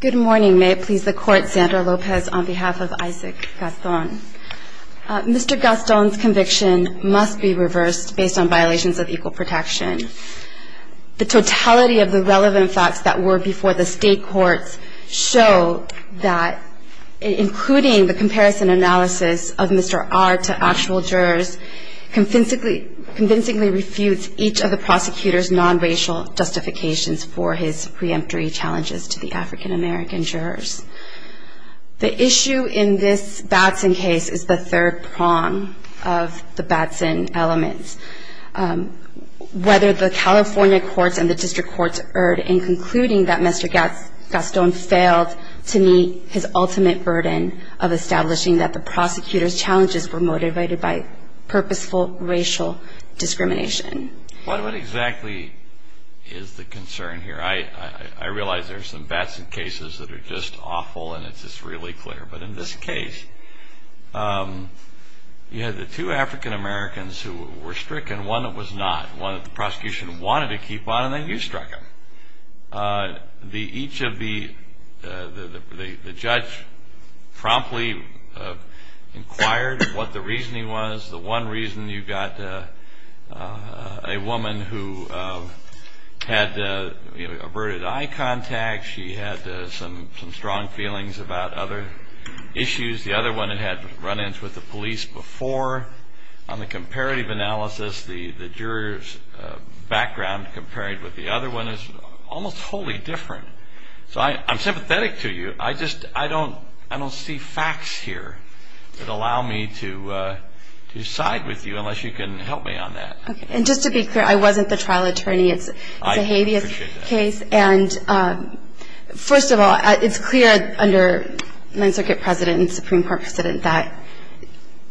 Good morning. May it please the court, Sandra Lopez on behalf of Isaac Gaston. Mr. Gaston's conviction must be reversed based on violations of equal protection. The totality of the relevant facts that were before the state courts show that, including the comparison analysis of Mr. R to actual jurors, convincingly refutes each of the prosecutor's non-racial justifications for his preemptory challenges to the African-American jurors. The issue in this Batson case is the third prong of the Batson elements. Whether the California courts and the district courts erred in concluding that Mr. Gaston failed to meet his ultimate burden of establishing that the prosecutor's challenges were motivated by purposeful racial discrimination. What exactly is the concern here? I realize there's some Batson cases that are just awful, and it's just really clear. But in this case, you had the two African-Americans who were stricken, one that was not, one that the prosecution wanted to keep on, and then you struck him. Each of the judge promptly inquired what the reasoning was. The one reason you got a woman who had averted eye contact, she had some strong feelings about other issues. The other one had run-ins with the police before on the comparative analysis. The jurors' background compared with the other one is almost wholly different. So I'm sympathetic to you. I just don't see facts here that allow me to side with you unless you can help me on that. And just to be clear, I wasn't the trial attorney. It's a habeas case. And first of all, it's clear under Ninth Circuit President and Supreme Court President that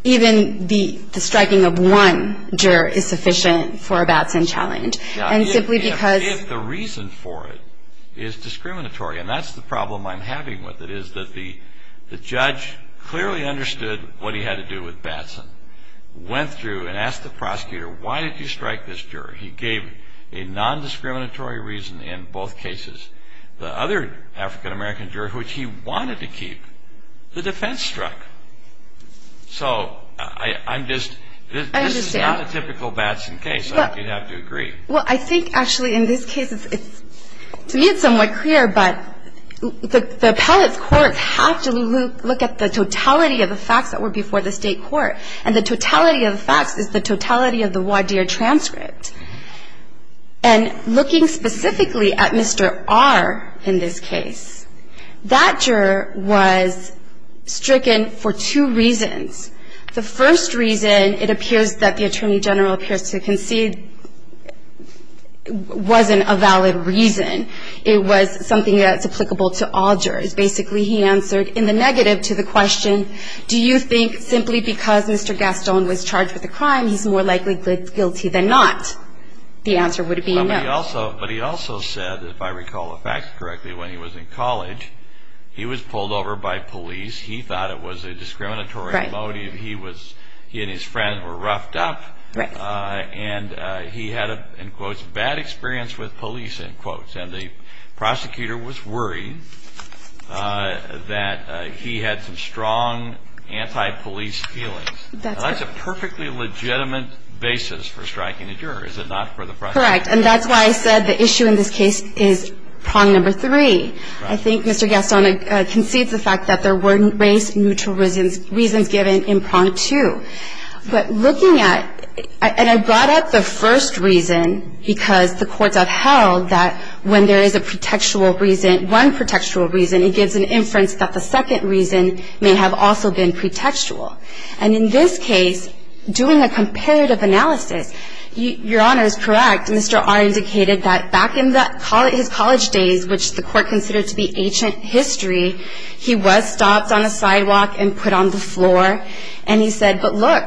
even the striking of one juror is sufficient for a Batson challenge. And simply because the reason for it is discriminatory. And that's the problem I'm having with it, is that the judge clearly understood what he had to do with Batson, went through and asked the prosecutor, why did you strike this juror? He gave a non-discriminatory reason in both cases. The other African-American juror, which he wanted to keep, the defense struck. So I'm just, this is not a typical Batson case. I think you'd have to agree. Well, I think actually in this case, to me, it's somewhat clear. But the appellate's courts have to look at the totality of the facts that were before the state court. And the totality of the facts is the totality of the Wadeer transcript. And looking specifically at Mr. R in this case, that juror was stricken for two reasons. The first reason, it appears that the attorney general appears to concede, wasn't a valid reason. It was something that's applicable to all jurors. Basically, he answered in the negative to the question, do you think simply because Mr. Gaston was charged with a crime, he's more likely guilty than not? The answer would be no. But he also said, if I recall the facts correctly, when he was in college, he was pulled over by police. He thought it was a discriminatory motive. He and his friends were roughed up. And he had a, in quotes, bad experience with police, in quotes. And the prosecutor was worried that he had some strong anti-police feelings. That's a perfectly legitimate basis for striking a juror, is it not, for the prosecution? Correct. And that's why I said the issue in this case is prong number three. I think Mr. Gaston concedes the fact that there weren't race-neutral reasons given in prong two. But looking at, and I brought up the first reason because the courts have held that when there is a pretextual reason, one pretextual reason, it gives an inference that the second reason may have also been pretextual. And in this case, doing a comparative analysis, Your Honor is correct. Mr. R indicated that back in his college days, which the court considered to be ancient history, he was stopped on a sidewalk and put on the floor. And he said, but look,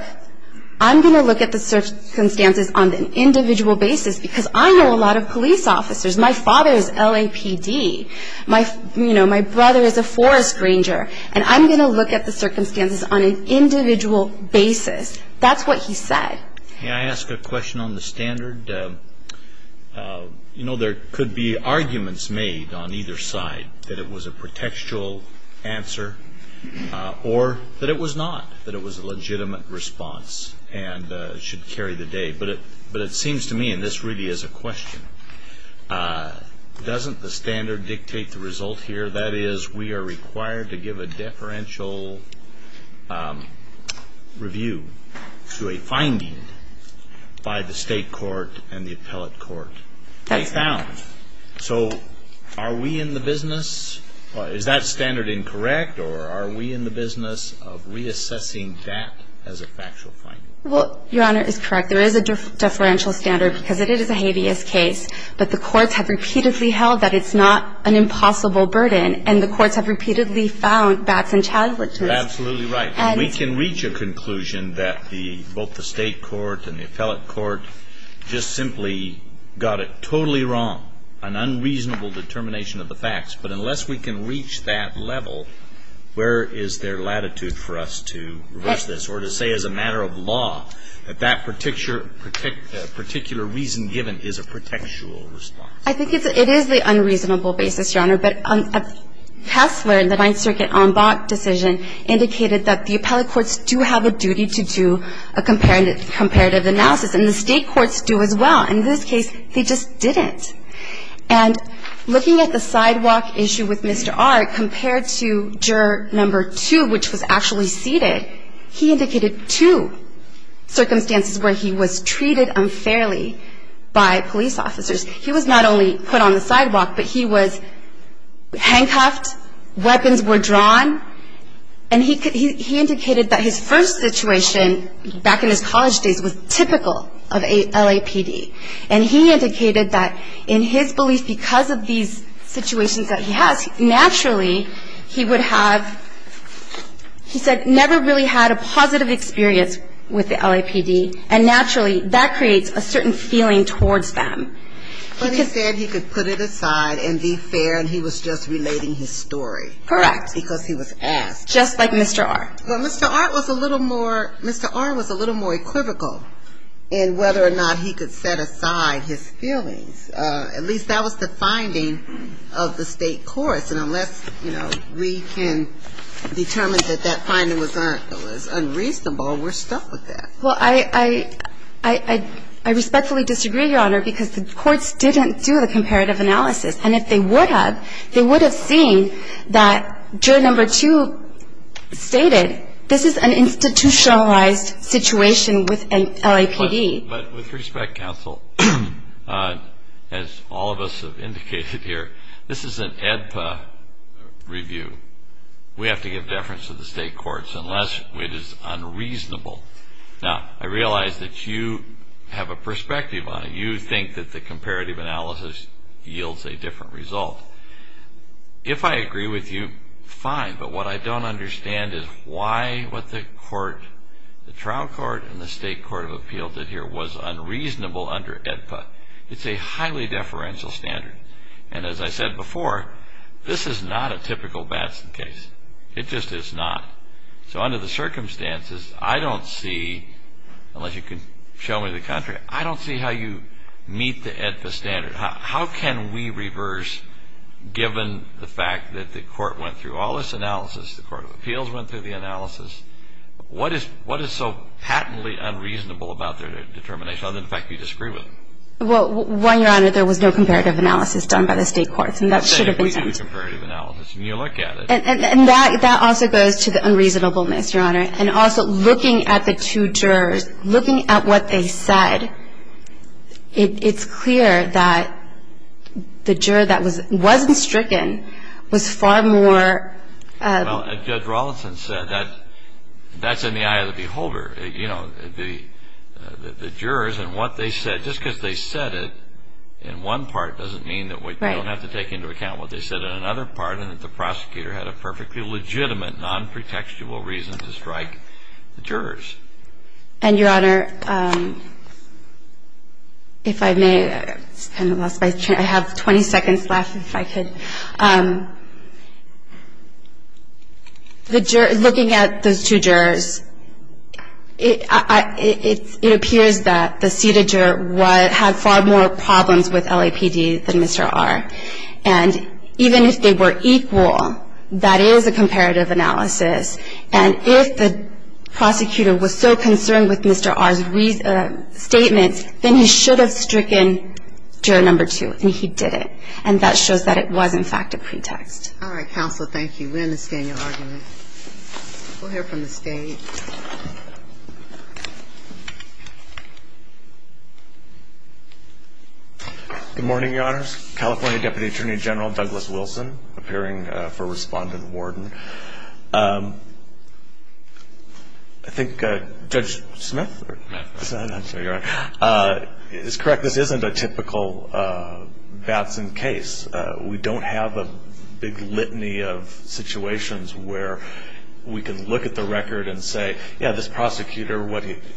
I'm going to look at the circumstances on an individual basis because I know a lot of police officers. My father is LAPD. My brother is a forest ranger. And I'm going to look at the circumstances on an individual basis. That's what he said. May I ask a question on the standard? There could be arguments made on either side that it was a pretextual answer or that it was not, that it was a legitimate response. And it should carry the day. But it seems to me, and this really is a question, doesn't the standard dictate the result here? That is, we are required to give a deferential review to a finding by the state court and the appellate court. They found. So are we in the business, is that standard incorrect? Or are we in the business of reassessing that as a factual finding? Well, Your Honor, it's correct. There is a deferential standard because it is a habeas case. But the courts have repeatedly held that it's not an impossible burden. And the courts have repeatedly found backs and challenges. You're absolutely right. We can reach a conclusion that both the state court and the appellate court just simply got it totally wrong, an unreasonable determination of the facts. But unless we can reach that level, where is there latitude for us to reverse this or to say as a matter of law that that particular reason given is a protectual response? I think it is the unreasonable basis, Your Honor. But Kessler, the Ninth Circuit en bas decision, indicated that the appellate courts do have a duty to do a comparative analysis. And the state courts do as well. In this case, they just didn't. And looking at the sidewalk issue with Mr. R compared to juror number two, which was actually seated, he indicated two circumstances where he was treated unfairly by police officers. He was not only put on the sidewalk, but he was handcuffed, weapons were drawn. And he indicated that his first situation back in his college days was typical of a LAPD. And he indicated that in his belief because of these situations that he has, naturally he would have, he said, never really had a positive experience with the LAPD. And naturally, that creates a certain feeling towards them. But he said he could put it aside and be fair, and he was just relating his story. Correct. Because he was asked. Just like Mr. R. Well, Mr. R was a little more equivocal in whether or not he could set aside his feelings. At least that was the finding of the state courts. And unless we can determine that that finding was unreasonable, we're stuck with that. Well, I respectfully disagree, Your Honor, because the courts didn't do the comparative analysis. And if they would have, they would have seen that juror number two stated, this is an institutionalized situation with an LAPD. But with respect, counsel, as all of us have indicated here, this is an AEDPA review. We have to give deference to the state courts unless it is unreasonable. Now, I realize that you have a perspective on it. You think that the comparative analysis yields a different result. If I agree with you, fine. But what I don't understand is why what the trial court and the state court of appeal did here was unreasonable under AEDPA. It's a highly deferential standard. And as I said before, this is not a typical Batson case. It just is not. So under the circumstances, I don't see, unless you can show me the contract, I don't see how you meet the AEDPA standard. How can we reverse, given the fact the court of appeals went through the analysis, what is so patently unreasonable about their determination, other than the fact that you disagree with them? Well, one, Your Honor, there was no comparative analysis done by the state courts. And that should have been done. I said, if we do comparative analysis and you look at it. And that also goes to the unreasonableness, Your Honor. And also, looking at the two jurors, looking at what they said, it's clear that the juror that wasn't stricken was far more. Well, Judge Rawlinson said that that's in the eye of the beholder, the jurors. And what they said, just because they said it in one part, doesn't mean that we don't have to take into account what they said in another part, and that the prosecutor had a perfectly legitimate, non-pretextual reason to strike the jurors. And Your Honor, if I may, I have 20 seconds left, if I could. The jurors, looking at those two jurors, it appears that the seated juror had far more problems with LAPD than Mr. R. And even if they were equal, that is a comparative analysis. And if the prosecutor was so concerned with Mr. R's statements, then he should have stricken juror number two, and he didn't. And that shows that it was, in fact, a pretext. All right, counsel. Thank you. We understand your argument. We'll hear from the stage. Good morning, Your Honors. California Deputy Attorney General Douglas Wilson, appearing for respondent warden. I think Judge Smith, is correct. This isn't a typical Batson case. We don't have a big litany of situations where we can look at the record and say, yeah, this prosecutor,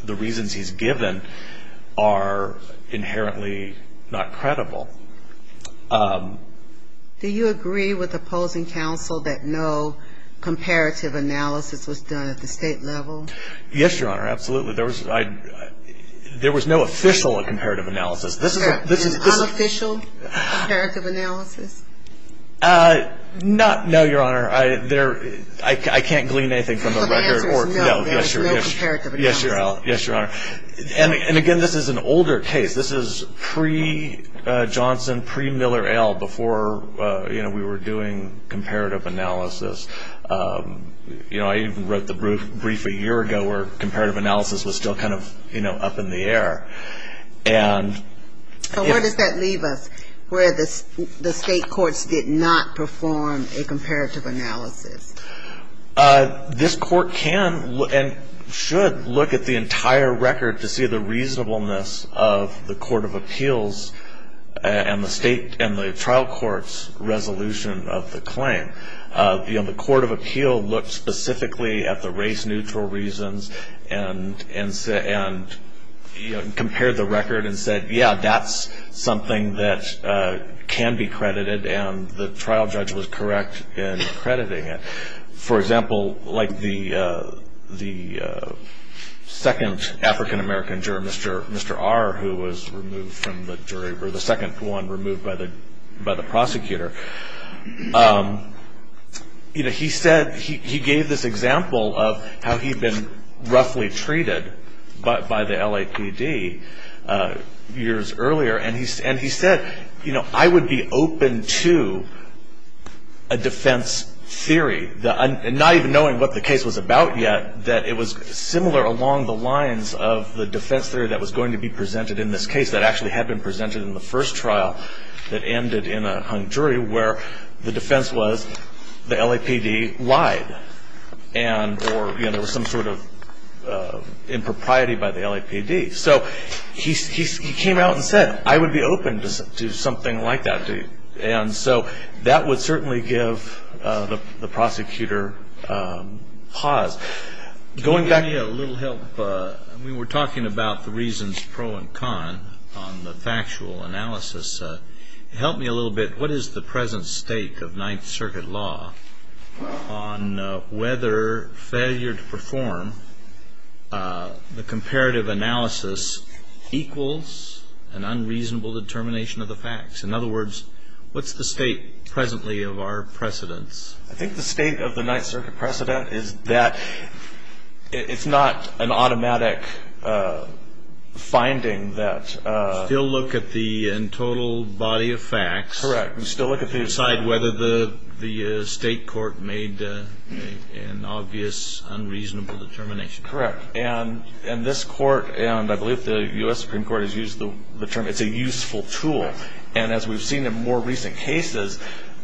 the reasons he's given are inherently not credible. Do you agree with opposing counsel that no comparative analysis was done at the state level? Yes, Your Honor, absolutely. There was no official comparative analysis. There was no official comparative analysis? Not, no, Your Honor. I can't glean anything from the record. So the answer is no, there was no comparative analysis. Yes, Your Honor. And again, this is an older case. This is pre-Johnson, pre-Miller-Ale, before we were doing comparative analysis. I even wrote the brief a year ago where comparative analysis was still kind of up in the air. And where does that leave us, where the state courts did not perform a comparative analysis? This court can and should look at the entire record to see the reasonableness of the Court of Appeals and the state and the trial court's resolution of the claim. The Court of Appeal looked specifically at the race-neutral reasons and compared the record and said, yeah, that's something that can be credited. And the trial judge was correct in crediting it. For example, like the second African-American juror, Mr. R, who was removed from the jury, or the second one removed by the prosecutor, he gave this example of how he'd been roughly treated by the LAPD years earlier. And he said, I would be open to a defense theory, not even knowing what the case was about yet, that it was similar along the lines of the defense theory that was going to be presented in this case, that actually had been presented in the first trial that ended in a hung jury, where the defense was the LAPD lied. And there was some sort of impropriety by the LAPD. So he came out and said, I would be open to something like that. And so that would certainly give the prosecutor pause. Going back to the little help, we were talking about the reasons pro and con on the factual analysis. Help me a little bit, what is the present state of Ninth Circuit law on whether failure to perform the comparative analysis equals an unreasonable determination of the facts? In other words, what's the state presently of our precedents? I think the state of the Ninth Circuit precedent is that it's not an automatic finding that Still look at the total body of facts. Correct. And still look at the Decide whether the state court made an obvious, unreasonable determination. Correct. And this court, and I believe the US Supreme Court has used the term, it's a useful tool. And as we've seen in more recent cases,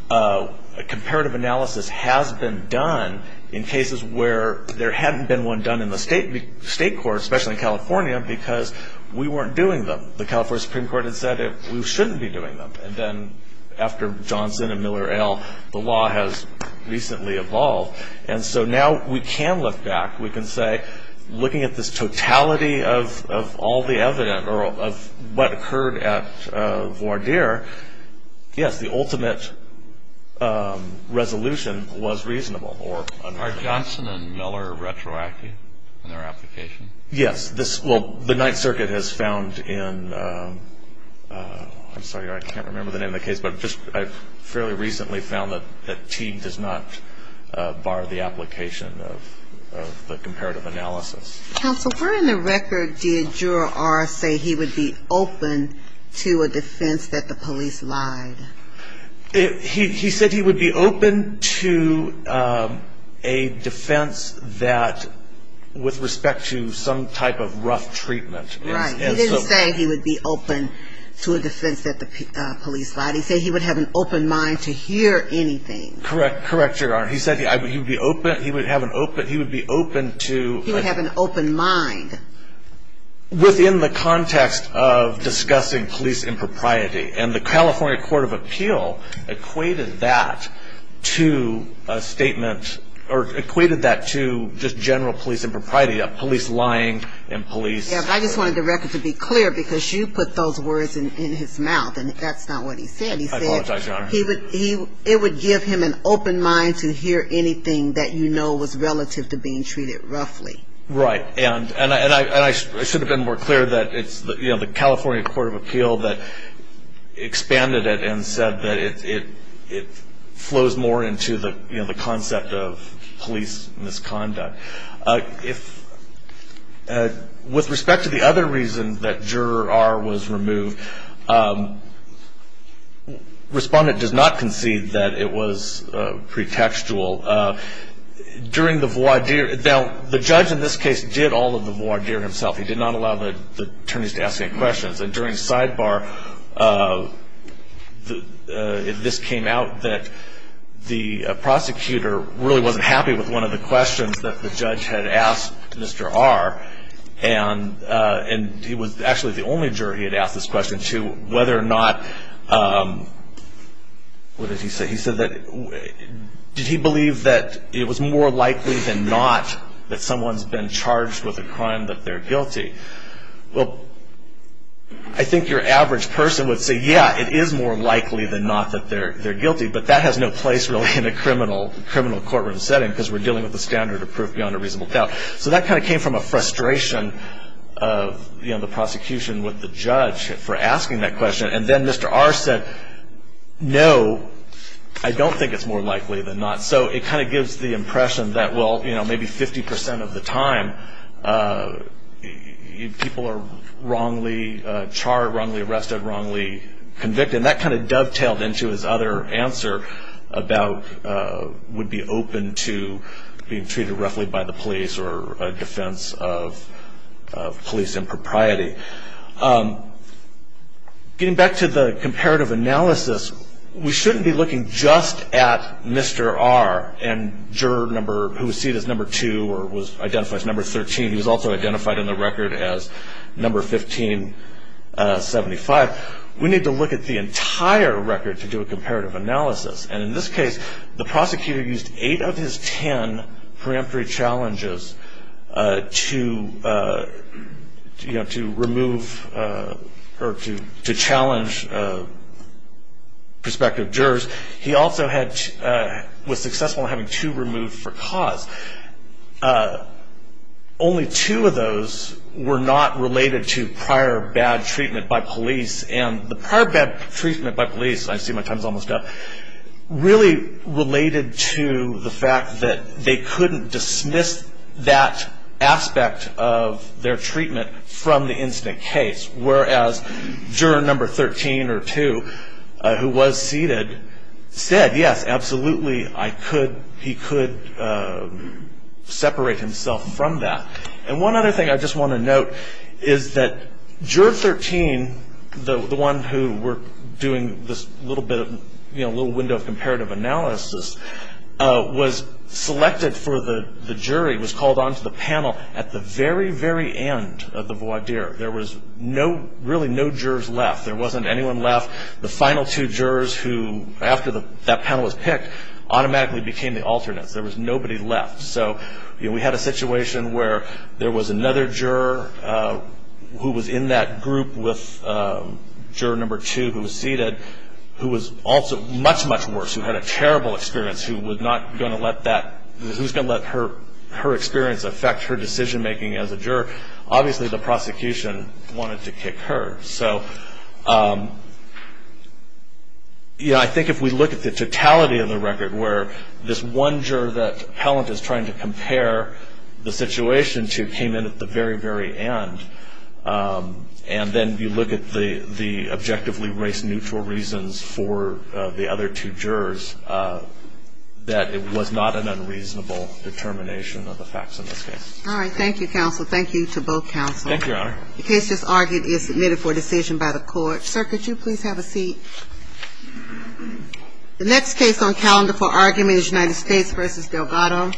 a comparative analysis has been done in cases where there hadn't been one done in the state court, especially in California, because we weren't doing them. The California Supreme Court had said we shouldn't be doing them. And then after Johnson and Miller, L, the law has recently evolved. And so now we can look back. We can say, looking at this totality of all the evidence or of what occurred at voir dire, yes, the ultimate resolution was reasonable or unreasonable. Are Johnson and Miller retroactive in their application? Yes. Well, the Ninth Circuit has found in, I'm sorry, I can't remember the name of the case, but I've fairly recently found that Teague does not bar the application of the comparative analysis. Counsel, where in the record did Juror R say he would be open to a defense that the police lied? He said he would be open to a defense that, with respect to some type of rough treatment. Right, he didn't say he would be open to a defense that the police lied. He said he would have an open mind to hear anything. Correct, correct, Juror R. He said he would be open, he would have an open, he would be open to. He would have an open mind. Within the context of discussing police impropriety. And the California Court of Appeal equated that to a statement, or equated that to just general police impropriety, of police lying and police. Yeah, but I just wanted the record to be clear, because you put those words in his mouth, and that's not what he said. He said. I apologize, Your Honor. It would give him an open mind to hear anything that you know was relative to being treated roughly. Right, and I should have been more clear that it's the California Court of Appeal that expanded it and said that it flows more into the concept of police misconduct. With respect to the other reason that Juror R. was removed, the respondent does not concede that it was pretextual. During the voir dire, now the judge in this case did all of the voir dire himself. He did not allow the attorneys to ask any questions. And during sidebar, this came out that the prosecutor really wasn't happy with one of the questions that the judge had asked Mr. R. And he was actually the only juror he had asked this question to, whether or not, what did he say? He said that, did he believe that it was more likely than not that someone's been charged with a crime that they're guilty? Well, I think your average person would say, yeah, it is more likely than not that they're guilty. But that has no place really in a criminal courtroom setting, because we're dealing with the standard of proof beyond a reasonable doubt. So that kind of came from a frustration of the prosecution with the judge for asking that question. And then Mr. R said, no, I don't think it's more likely than not. So it kind of gives the impression that, well, maybe 50% of the time, people are wrongly charged, wrongly arrested, wrongly convicted. And that kind of dovetailed into his other answer about would be open to being treated roughly by the police or a defense of police impropriety. Getting back to the comparative analysis, we shouldn't be looking just at Mr. R and juror number who was seen as number two or was identified as number 13. He was also identified in the record as number 1575. We need to look at the entire record to do a comparative analysis. And in this case, the prosecutor used eight of his 10 preemptory challenges to remove or to challenge prospective jurors. He also was successful in having two removed for cause. Only two of those were not related to prior bad treatment by police. And the prior bad treatment by police, I see my time's almost up, really related to the fact that they couldn't dismiss that aspect of their treatment from the incident case, whereas juror number 13 or two, who was seated, said, yes, absolutely, he could separate himself from that. And one other thing I just want to note is that juror 13, the one who we're doing this little window of comparative analysis, was selected for the jury, was called onto the panel at the very, very end of the voir dire. There was really no jurors left. There wasn't anyone left. The final two jurors who, after that panel was picked, automatically became the alternates. There was nobody left. So we had a situation where there was another juror who was in that group with juror number two who was seated, who was also much, much worse, who had a terrible experience, who was going to let her experience affect her decision making as a juror. Obviously, the prosecution wanted to kick her. So I think if we look at the totality of the record, where this one juror that Pellant is trying to compare the situation to came in at the very, very end, and then you look at the objectively race-neutral reasons for the other two jurors, that it was not an unreasonable determination of the facts in this case. All right. Thank you, counsel. Thank you to both counsel. Thank you, Your Honor. The case just argued is submitted for decision by the court. Sir, could you please have a seat? The next case on calendar for argument is United States versus Delgado.